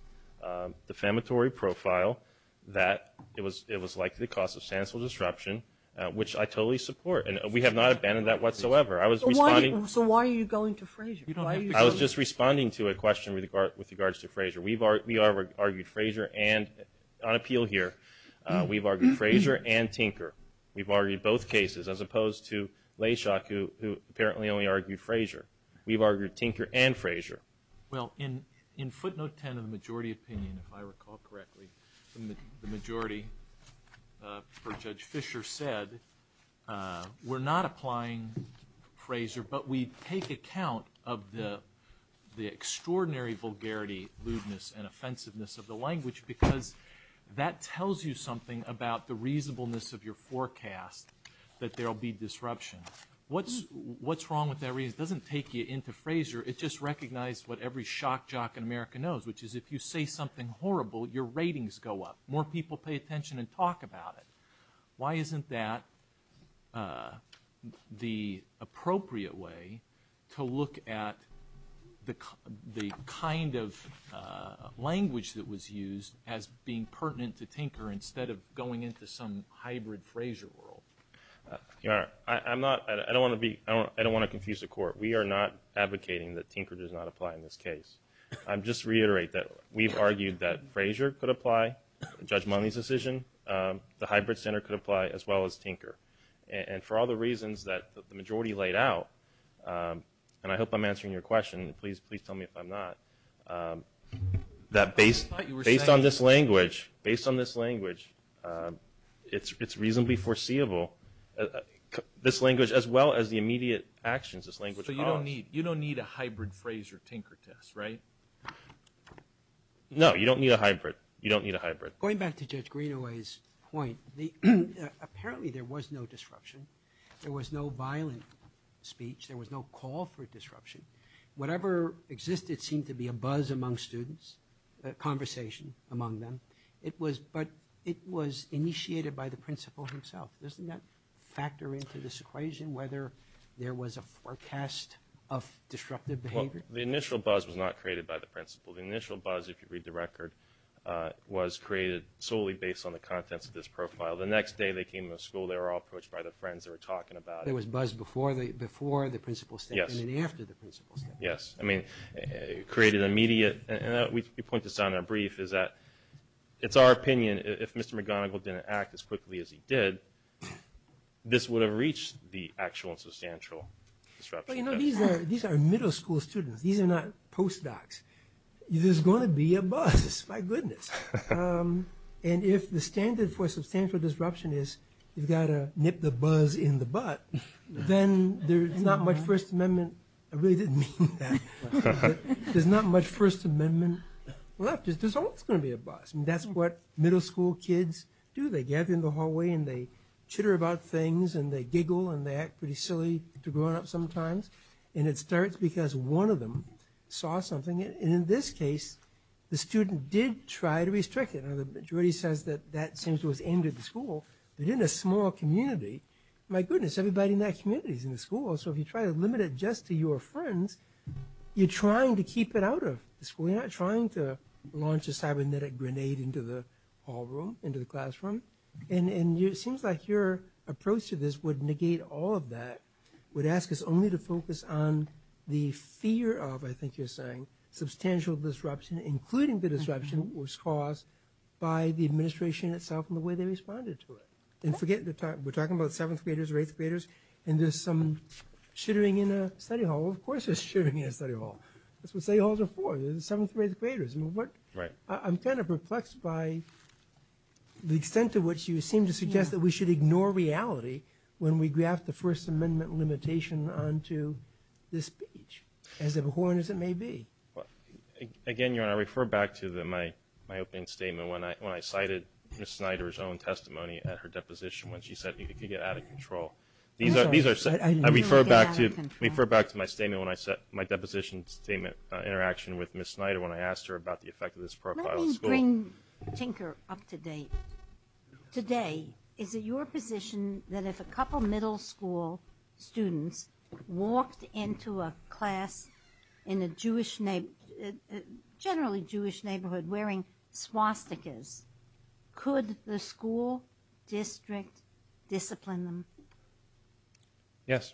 defamatory profile, that it was likely to cause substantial disruption, which I totally support. And we have not abandoned that whatsoever. So why are you going to Frazier? I was just responding to a question with regards to Frazier. We argued Frazier and, on appeal here, we've argued Frazier and Tinker. We've argued both cases, as opposed to Layshock, who apparently only argued Frazier. We've argued Tinker and Frazier. Well, in footnote 10 of the majority opinion, if I recall correctly, the majority for Judge Fischer said, we're not applying Frazier, but we take account of the extraordinary vulgarity, lewdness, and offensiveness of the language because that tells you something about the reasonableness of your forecast that there will be disruption. What's wrong with that reason? It doesn't take you into Frazier. It just recognized what every shock jock in America knows, which is if you say something horrible, your ratings go up. More people pay attention and talk about it. Why isn't that the appropriate way to look at the kind of language that was used as being pertinent to Tinker instead of going into some hybrid Frazier world? Your Honor, I don't want to confuse the Court. We are not advocating that Tinker does not apply in this case. I'll just reiterate that we've argued that Frazier could apply, Judge Mone's decision. The hybrid center could apply as well as Tinker. And for all the reasons that the majority laid out, and I hope I'm answering your question, and please tell me if I'm not, that based on this language, it's reasonably foreseeable, this language as well as the immediate actions this language caused. So you don't need a hybrid Frazier-Tinker test, right? No, you don't need a hybrid. You don't need a hybrid. Going back to Judge Greenaway's point, apparently there was no disruption. There was no violent speech. There was no call for disruption. Whatever existed seemed to be a buzz among students, a conversation among them. But it was initiated by the principal himself. Doesn't that factor into this equation, whether there was a forecast of disruptive behavior? Well, the initial buzz was not created by the principal. The initial buzz, if you read the record, was created solely based on the contents of this profile. The next day they came to the school, they were all approached by the friends that were talking about it. There was buzz before the principal's statement and after the principal's statement. Yes. I mean, it created an immediate... We point this out in our brief, is that it's our opinion, if Mr. McGonigal didn't act as quickly as he did, this would have reached the actual and substantial disruption test. These are middle school students. These are not post-docs. There's going to be a buzz. My goodness. And if the standard for substantial disruption is you've got to nip the buzz in the butt, then there's not much First Amendment... I really didn't mean that. There's not much First Amendment left. There's always going to be a buzz. That's what middle school kids do. They gather in the hallway and they chitter about things and they giggle and they act pretty silly to grown-ups sometimes. And it starts because one of them saw something. And in this case, the student did try to restrict it. Now, the majority says that that seems to have ended the school. But in a small community, my goodness, everybody in that community is in the school. So if you try to limit it just to your friends, you're trying to keep it out of the school. You're not trying to launch a cybernetic grenade into the hall room, into the classroom. And it seems like your approach to this would negate all of that, would ask us only to focus on the fear of, I think you're saying, substantial disruption, including the disruption that was caused by the administration itself and the way they responded to it. And forget we're talking about 7th graders or 8th graders, and there's some chittering in a study hall. Of course there's chittering in a study hall. That's what study halls are for. They're the 7th and 8th graders. I'm kind of perplexed by the extent to which you seem to suggest that we should ignore reality when we graft the First Amendment limitation onto this speech, as abhorrent as it may be. Again, Your Honor, I refer back to my opening statement when I cited Ms. Snyder's own testimony at her deposition when she said it could get out of control. I refer back to my statement when I set my deposition statement interaction with Ms. Snyder when I asked her about the effect of this profile at school. Let me bring Tinker up to date. Today, is it your position that if a couple middle school students walked into a class in a Jewish neighborhood, wearing swastikas, could the school district discipline them? Yes.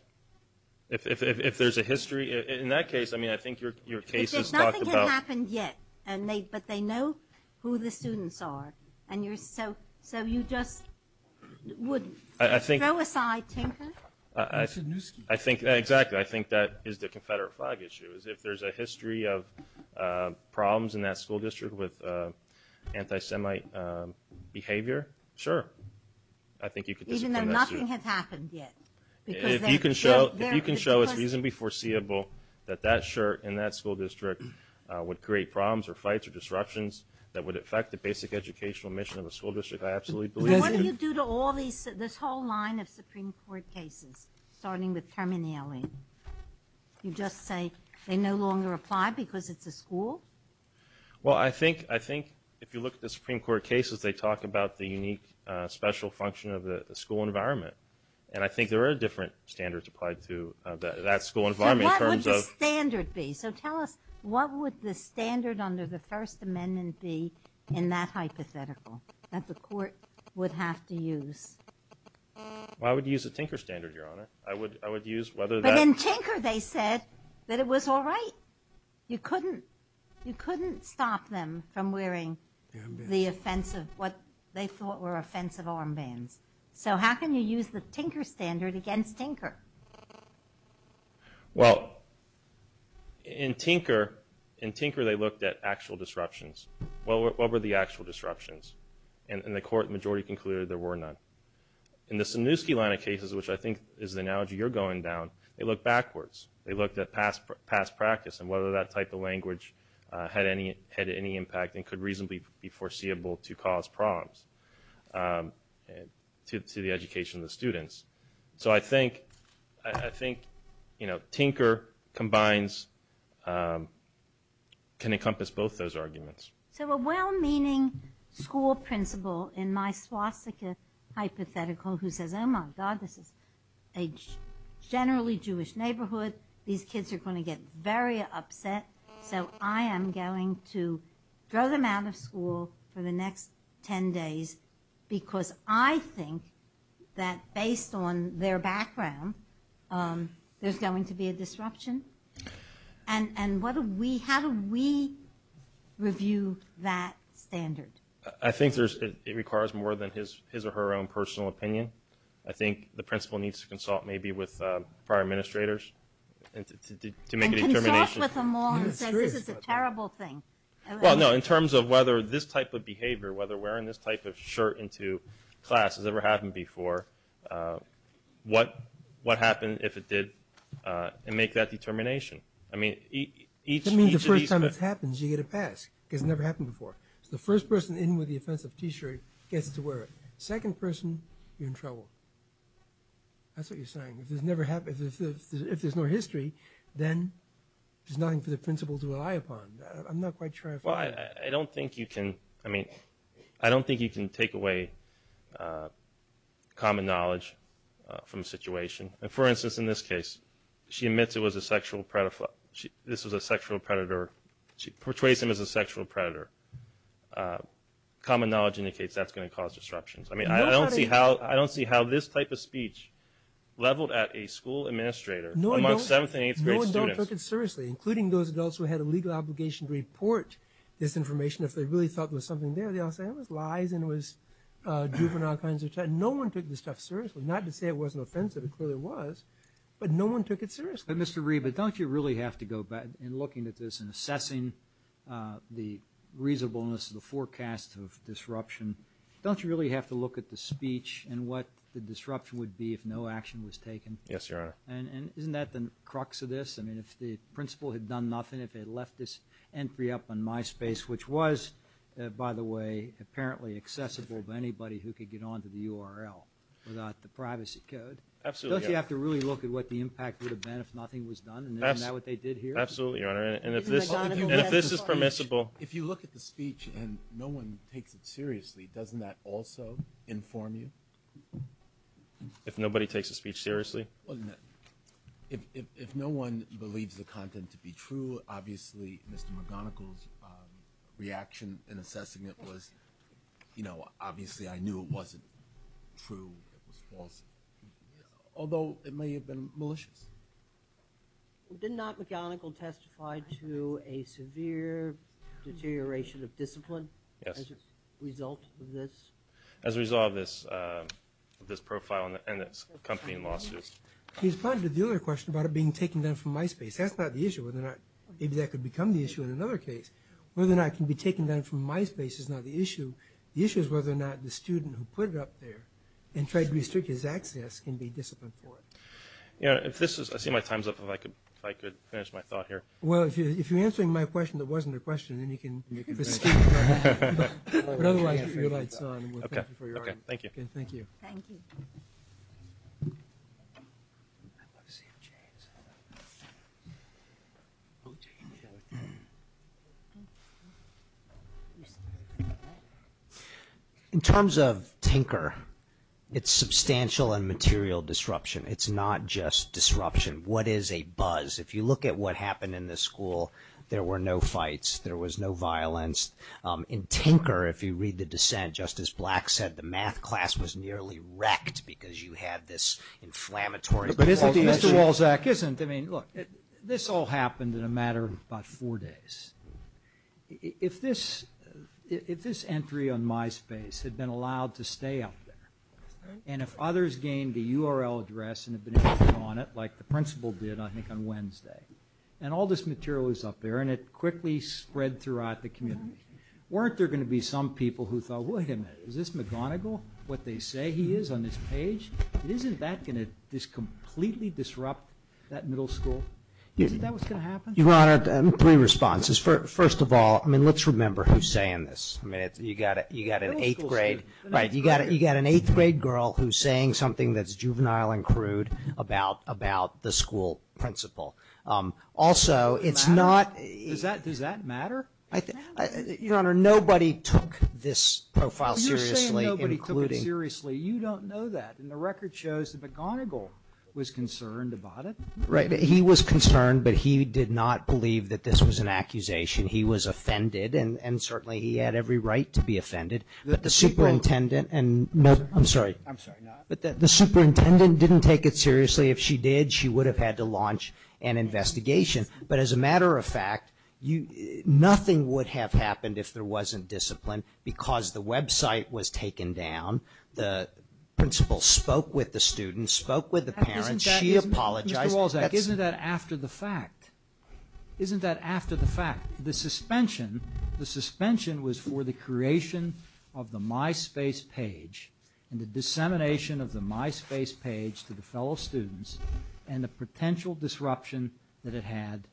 If there's a history. In that case, I mean, I think your case is talked about. If nothing had happened yet, but they know who the students are, so you just wouldn't throw aside Tinker? Exactly. I think that is the Confederate flag issue. If there's a history of problems in that school district with anti-Semite behavior, sure. I think you could discipline that student. Even though nothing has happened yet? If you can show it's reasonably foreseeable that that shirt in that school district would create problems or fights or disruptions that would affect the basic educational mission of a school district, I absolutely believe it. What do you do to all these, this whole line of Supreme Court cases, starting with Terminelli? You just say they no longer apply because it's a school? Well, I think if you look at the Supreme Court cases, they talk about the unique special function of the school environment. And I think there are different standards applied to that school environment in terms of- So what would the standard be? So tell us, what would the standard under the First Amendment be in that hypothetical that the court would have to use? I would use a Tinker standard, Your Honor. But in Tinker they said that it was all right. You couldn't stop them from wearing what they thought were offensive armbands. So how can you use the Tinker standard against Tinker? Well, in Tinker they looked at actual disruptions. What were the actual disruptions? And the court majority concluded there were none. In the Sanusky line of cases, which I think is the analogy you're going down, they looked backwards. They looked at past practice and whether that type of language had any impact and could reasonably be foreseeable to cause problems to the education of the students. So I think, you know, Tinker combines, can encompass both those arguments. So a well-meaning school principal in my Swastika hypothetical who says, Oh my God, this is a generally Jewish neighborhood. These kids are going to get very upset. So I am going to throw them out of school for the next 10 days because I think that based on their background there's going to be a disruption. And how do we review that standard? I think it requires more than his or her own personal opinion. I think the principal needs to consult maybe with prior administrators to make a determination. And consult with them all and say this is a terrible thing. Well, no, in terms of whether this type of behavior, whether wearing this type of shirt into class has ever happened before, what happened if it did, and make that determination. I mean, each of these- That means the first time it happens you get a pass because it never happened before. So the first person in with the offensive T-shirt gets to wear it. Second person, you're in trouble. That's what you're saying. If there's no history, then there's nothing for the principal to rely upon. I'm not quite sure I follow that. Well, I don't think you can- I mean, I don't think you can take away common knowledge from a situation. And for instance, in this case, she admits it was a sexual- this was a sexual predator. She portrays him as a sexual predator. Common knowledge indicates that's going to cause disruptions. I mean, I don't see how this type of speech leveled at a school administrator amongst seventh and eighth grade students. No one took it seriously, including those adults who had a legal obligation to report this information if they really thought there was something there. They all say it was lies and it was juvenile kinds of- No one took this stuff seriously. Not to say it wasn't offensive. It clearly was. But no one took it seriously. Mr. Reed, but don't you really have to go back in looking at this and assessing the reasonableness of the forecast of disruption? Don't you really have to look at the speech and what the disruption would be if no action was taken? Yes, Your Honor. And isn't that the crux of this? I mean, if the principal had done nothing, if they had left this entry up on MySpace, which was, by the way, apparently accessible to anybody who could get onto the URL without the privacy code, don't you have to really look at what the impact would have been if nothing was done? And isn't that what they did here? Absolutely, Your Honor. And if this is permissible- If you look at the speech and no one takes it seriously, doesn't that also inform you? If nobody takes the speech seriously? If no one believes the content to be true, obviously Mr. McGonigal's reaction in assessing it was, you know, obviously I knew it wasn't true, it was false, although it may have been malicious. Did not McGonigal testify to a severe deterioration of discipline as a result of this? As a result of this profile and its accompanying lawsuits. He responded to the other question about it being taken down from MySpace. That's not the issue. Maybe that could become the issue in another case. Whether or not it can be taken down from MySpace is not the issue. The issue is whether or not the student who put it up there and tried to restrict his access can be disciplined for it. I see my time's up. If I could finish my thought here. Well, if you're answering my question that wasn't a question, then you can proceed. Thank you for your time. Thank you. Thank you. In terms of Tinker, it's substantial and material disruption. It's not just disruption. What is a buzz? If you look at what happened in this school, there were no fights. There was no violence. In Tinker, if you read the dissent, Justice Black said the math class was nearly wrecked because you had this inflammatory... But isn't the... Mr. Walczak, isn't... I mean, look, this all happened in a matter of about four days. If this entry on MySpace had been allowed to stay up there, and if others gained a URL address and had been able to get on it, like the principal did, I think, on Wednesday, and all this material was up there and it quickly spread throughout the community. Weren't there going to be some people who thought, wait a minute, is this McGonigal, what they say he is on this page? Isn't that going to just completely disrupt that middle school? Isn't that what's going to happen? Your Honor, three responses. First of all, I mean, let's remember who's saying this. I mean, you've got an eighth-grade... You've got an eighth-grade girl who's saying something that's juvenile and crude about the school principal. Also, it's not... Does that matter? Your Honor, nobody took this profile seriously, including... You're saying nobody took it seriously. You don't know that, and the record shows that McGonigal was concerned about it. Right. He was concerned, but he did not believe that this was an accusation. He was offended, and certainly he had every right to be offended. But the superintendent... I'm sorry. I'm sorry. But the superintendent didn't take it seriously. If she did, she would have had to launch an investigation. But as a matter of fact, nothing would have happened if there wasn't discipline because the website was taken down. The principal spoke with the students, spoke with the parents. She apologized. Mr. Walczak, isn't that after the fact? Isn't that after the fact? The suspension was for the creation of the MySpace page and the dissemination of the MySpace page to the fellow students and the potential disruption that it had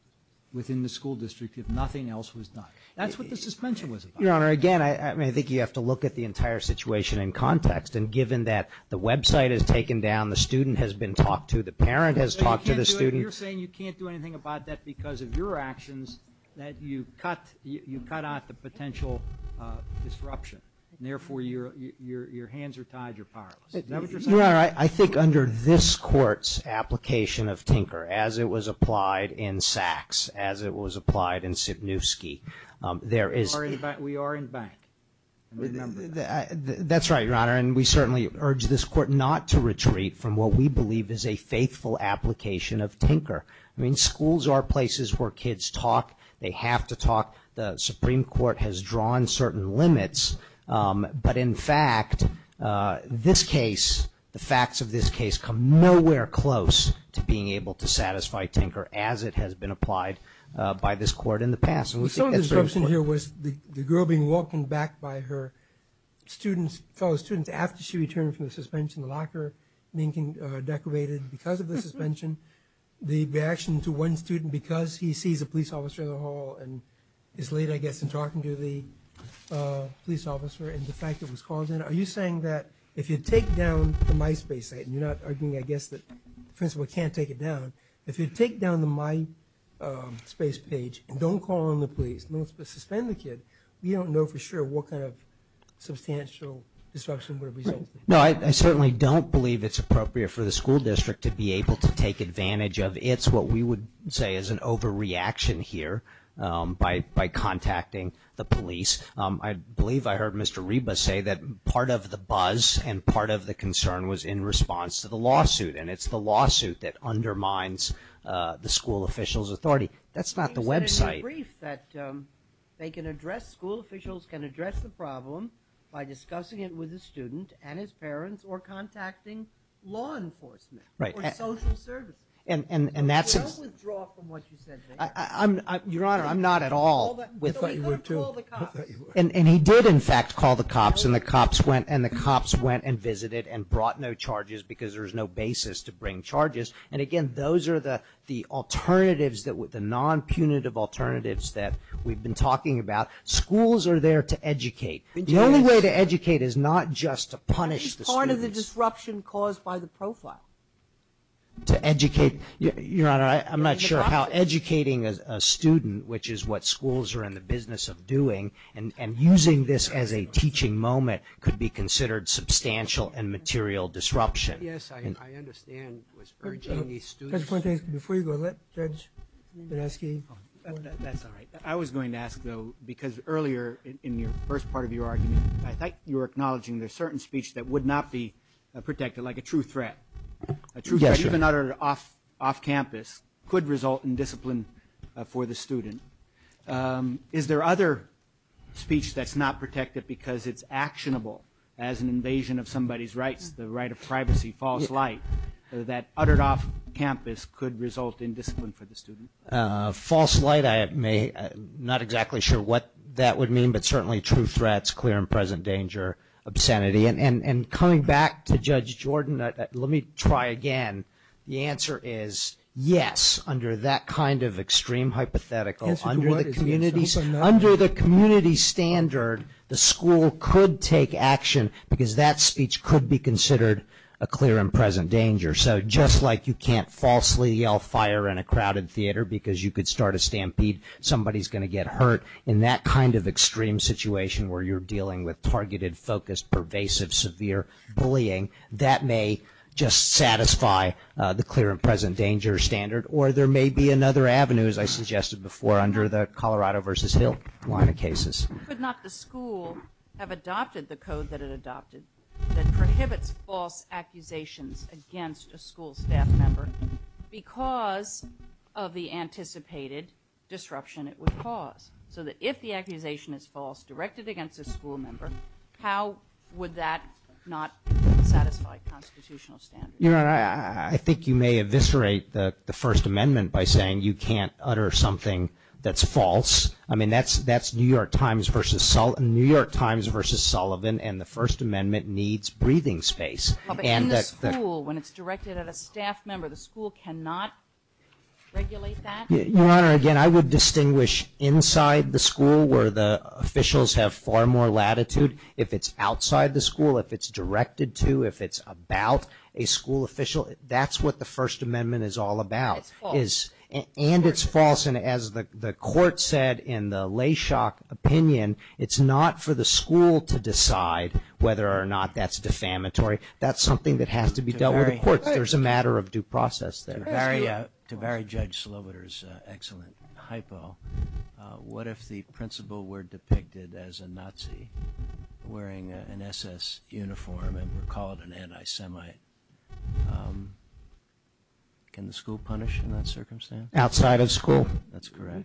within the school district if nothing else was done. That's what the suspension was about. Your Honor, again, I think you have to look at the entire situation in context, and given that the website is taken down, the student has been talked to, the parent has talked to the student... You're saying you can't do anything about that because of your actions, that you cut out the potential disruption, and therefore your hands are tied, you're powerless. Is that what you're saying? Your Honor, I think under this Court's application of tinker, as it was applied in Sachs, as it was applied in Sibniewski, there is... We are in bank. That's right, Your Honor, and we certainly urge this Court not to retreat from what we believe is a faithful application of tinker. I mean, schools are places where kids talk. They have to talk. The Supreme Court has drawn certain limits, but, in fact, this case, the facts of this case come nowhere close to being able to satisfy tinker as it has been applied by this Court in the past. Some of the disruption here was the girl being welcomed back by her students, fellow students, after she returned from the suspension, the locker being decorated because of the suspension, and is late, I guess, in talking to the police officer and the fact that it was called in. Are you saying that if you take down the MySpace site, and you're not arguing, I guess, that the principal can't take it down, if you take down the MySpace page and don't call in the police, don't suspend the kid, we don't know for sure what kind of substantial disruption would result. No, I certainly don't believe it's appropriate for the school district to be able to take advantage of. It's what we would say is an overreaction here by contacting the police. I believe I heard Mr. Reba say that part of the buzz and part of the concern was in response to the lawsuit, and it's the lawsuit that undermines the school officials' authority. That's not the website. They can address, school officials can address the problem by discussing it with the student and his parents or contacting law enforcement or social services. Don't withdraw from what you said there. Your Honor, I'm not at all. I thought you were, too. And he did, in fact, call the cops, and the cops went and visited and brought no charges because there was no basis to bring charges. And, again, those are the alternatives, the non-punitive alternatives that we've been talking about. Schools are there to educate. The only way to educate is not just to punish the students. That's part of the disruption caused by the profile. To educate. Your Honor, I'm not sure how educating a student, which is what schools are in the business of doing, and using this as a teaching moment could be considered substantial and material disruption. Yes, I understand. I was urging the students. Before you go, Judge Bernanke. That's all right. I was going to ask, though, because earlier in the first part of your argument, I thought you were acknowledging there's certain speech that would not be protected, like a true threat. A true threat, even uttered off campus, could result in discipline for the student. Is there other speech that's not protected because it's actionable as an invasion of somebody's rights, the right of privacy, false light, that uttered off campus could result in discipline for the student? False light, I'm not exactly sure what that would mean, but certainly true threats, clear and present danger, obscenity. And coming back to Judge Jordan, let me try again. The answer is yes, under that kind of extreme hypothetical, under the community standard, the school could take action because that speech could be considered a clear and present danger. So just like you can't falsely yell fire in a crowded theater because you could start a stampede, somebody's going to get hurt, in that kind of extreme situation where you're dealing with targeted, focused, pervasive, severe bullying, that may just satisfy the clear and present danger standard, or there may be another avenue, as I suggested before, under the Colorado versus Hill line of cases. Could not the school have adopted the code that it adopted that prohibits false accusations against a school staff member because of the anticipated disruption it would cause, so that if the accusation is false, if it's directed against a school member, how would that not satisfy constitutional standards? Your Honor, I think you may eviscerate the First Amendment by saying you can't utter something that's false. I mean, that's New York Times versus Sullivan, and the First Amendment needs breathing space. In the school, when it's directed at a staff member, the school cannot regulate that? Your Honor, again, I would distinguish inside the school where the officials have far more latitude. If it's outside the school, if it's directed to, if it's about a school official, that's what the First Amendment is all about. It's false. And it's false. And as the Court said in the Layshock opinion, it's not for the school to decide whether or not that's defamatory. That's something that has to be dealt with in court. There's a matter of due process there. To vary Judge Slobodar's excellent hypo, what if the principal were depicted as a Nazi wearing an SS uniform and were called an anti-Semite? Can the school punish in that circumstance? Outside of school? That's correct.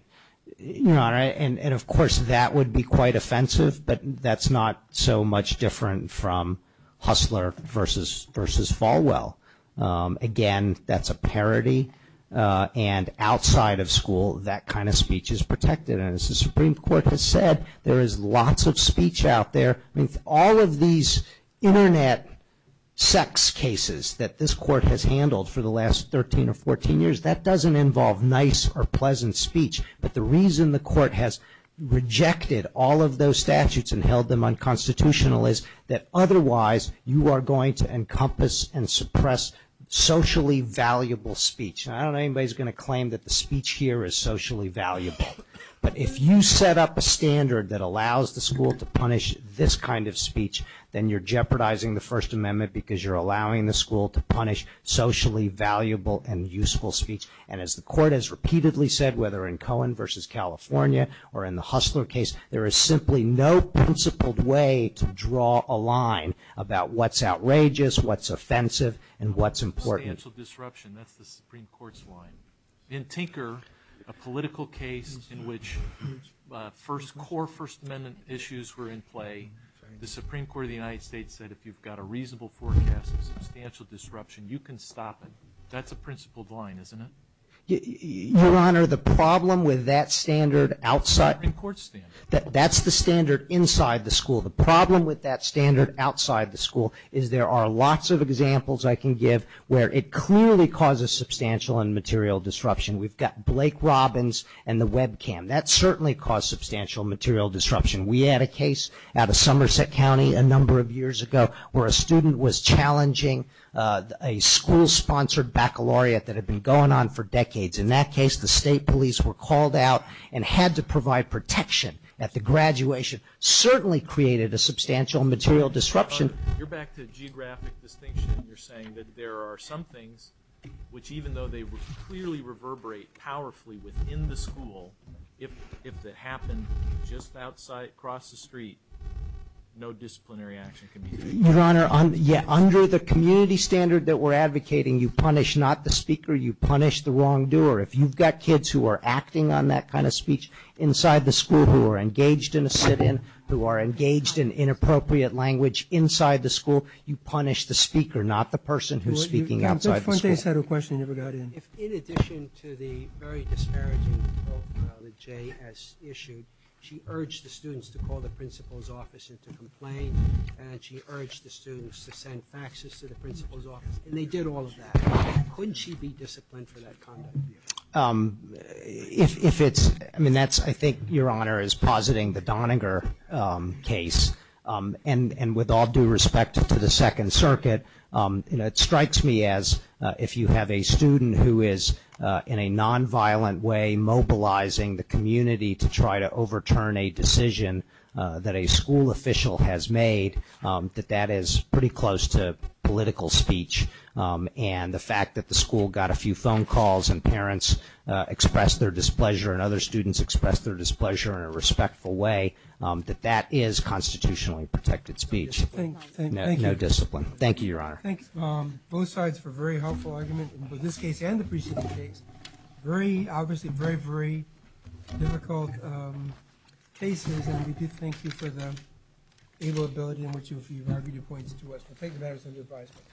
Your Honor, and, of course, that would be quite offensive, but that's not so much different from Hustler versus Falwell. Again, that's a parody. And outside of school, that kind of speech is protected. And as the Supreme Court has said, there is lots of speech out there. All of these Internet sex cases that this Court has handled for the last 13 or 14 years, that doesn't involve nice or pleasant speech. But the reason the Court has rejected all of those statutes and held them unconstitutional is that otherwise you are going to encompass and suppress socially valuable speech. And I don't know if anybody is going to claim that the speech here is socially valuable, but if you set up a standard that allows the school to punish this kind of speech, then you're jeopardizing the First Amendment because you're allowing the school to punish socially valuable and useful speech. And as the Court has repeatedly said, whether in Cohen versus California or in the Hustler case, there is simply no principled way to draw a line about what's outrageous, what's offensive, and what's important. Substantial disruption, that's the Supreme Court's line. In Tinker, a political case in which first core First Amendment issues were in play, the Supreme Court of the United States said if you've got a reasonable forecast of substantial disruption, you can stop it. That's a principled line, isn't it? Your Honor, the problem with that standard outside... The Supreme Court's standard. That's the standard inside the school. The problem with that standard outside the school is there are lots of examples I can give where it clearly causes substantial and material disruption. We've got Blake Robbins and the webcam. That certainly caused substantial material disruption. We had a case out of Somerset County a number of years ago where a student was challenging a school-sponsored baccalaureate that had been going on for decades. In that case, the state police were called out and had to provide protection at the graduation. Certainly created a substantial material disruption. Your Honor, you're back to geographic distinction. You're saying that there are some things which even though they clearly reverberate powerfully within the school, if it happened just across the street, no disciplinary action can be taken. Your Honor, under the community standard that we're advocating, you punish not the speaker, you punish the wrongdoer. If you've got kids who are acting on that kind of speech inside the school who are engaged in a sit-in, who are engaged in inappropriate language inside the school, you punish the speaker, not the person who's speaking outside the school. In addition to the very disparaging profile that Jay has issued, she urged the students to call the principal's office and to complain, and she urged the students to send faxes to the principal's office, and they did all of that. Couldn't she be disciplined for that conduct? If it's – I mean, that's – I think Your Honor is positing the Doniger case, and with all due respect to the Second Circuit, it strikes me as if you have a student who is in a nonviolent way mobilizing the community to try to overturn a decision that a school official has made, that that is pretty close to political speech, and the fact that the school got a few phone calls and parents expressed their displeasure and other students expressed their displeasure in a respectful way, that that is constitutionally protected speech. No discipline. Thank you, Your Honor. Thank you. Both sides for a very helpful argument in both this case and the preceding case. Very – obviously, very, very difficult cases, and we do thank you for the ability in which you have argued your points to us. I take the matter as under advisement.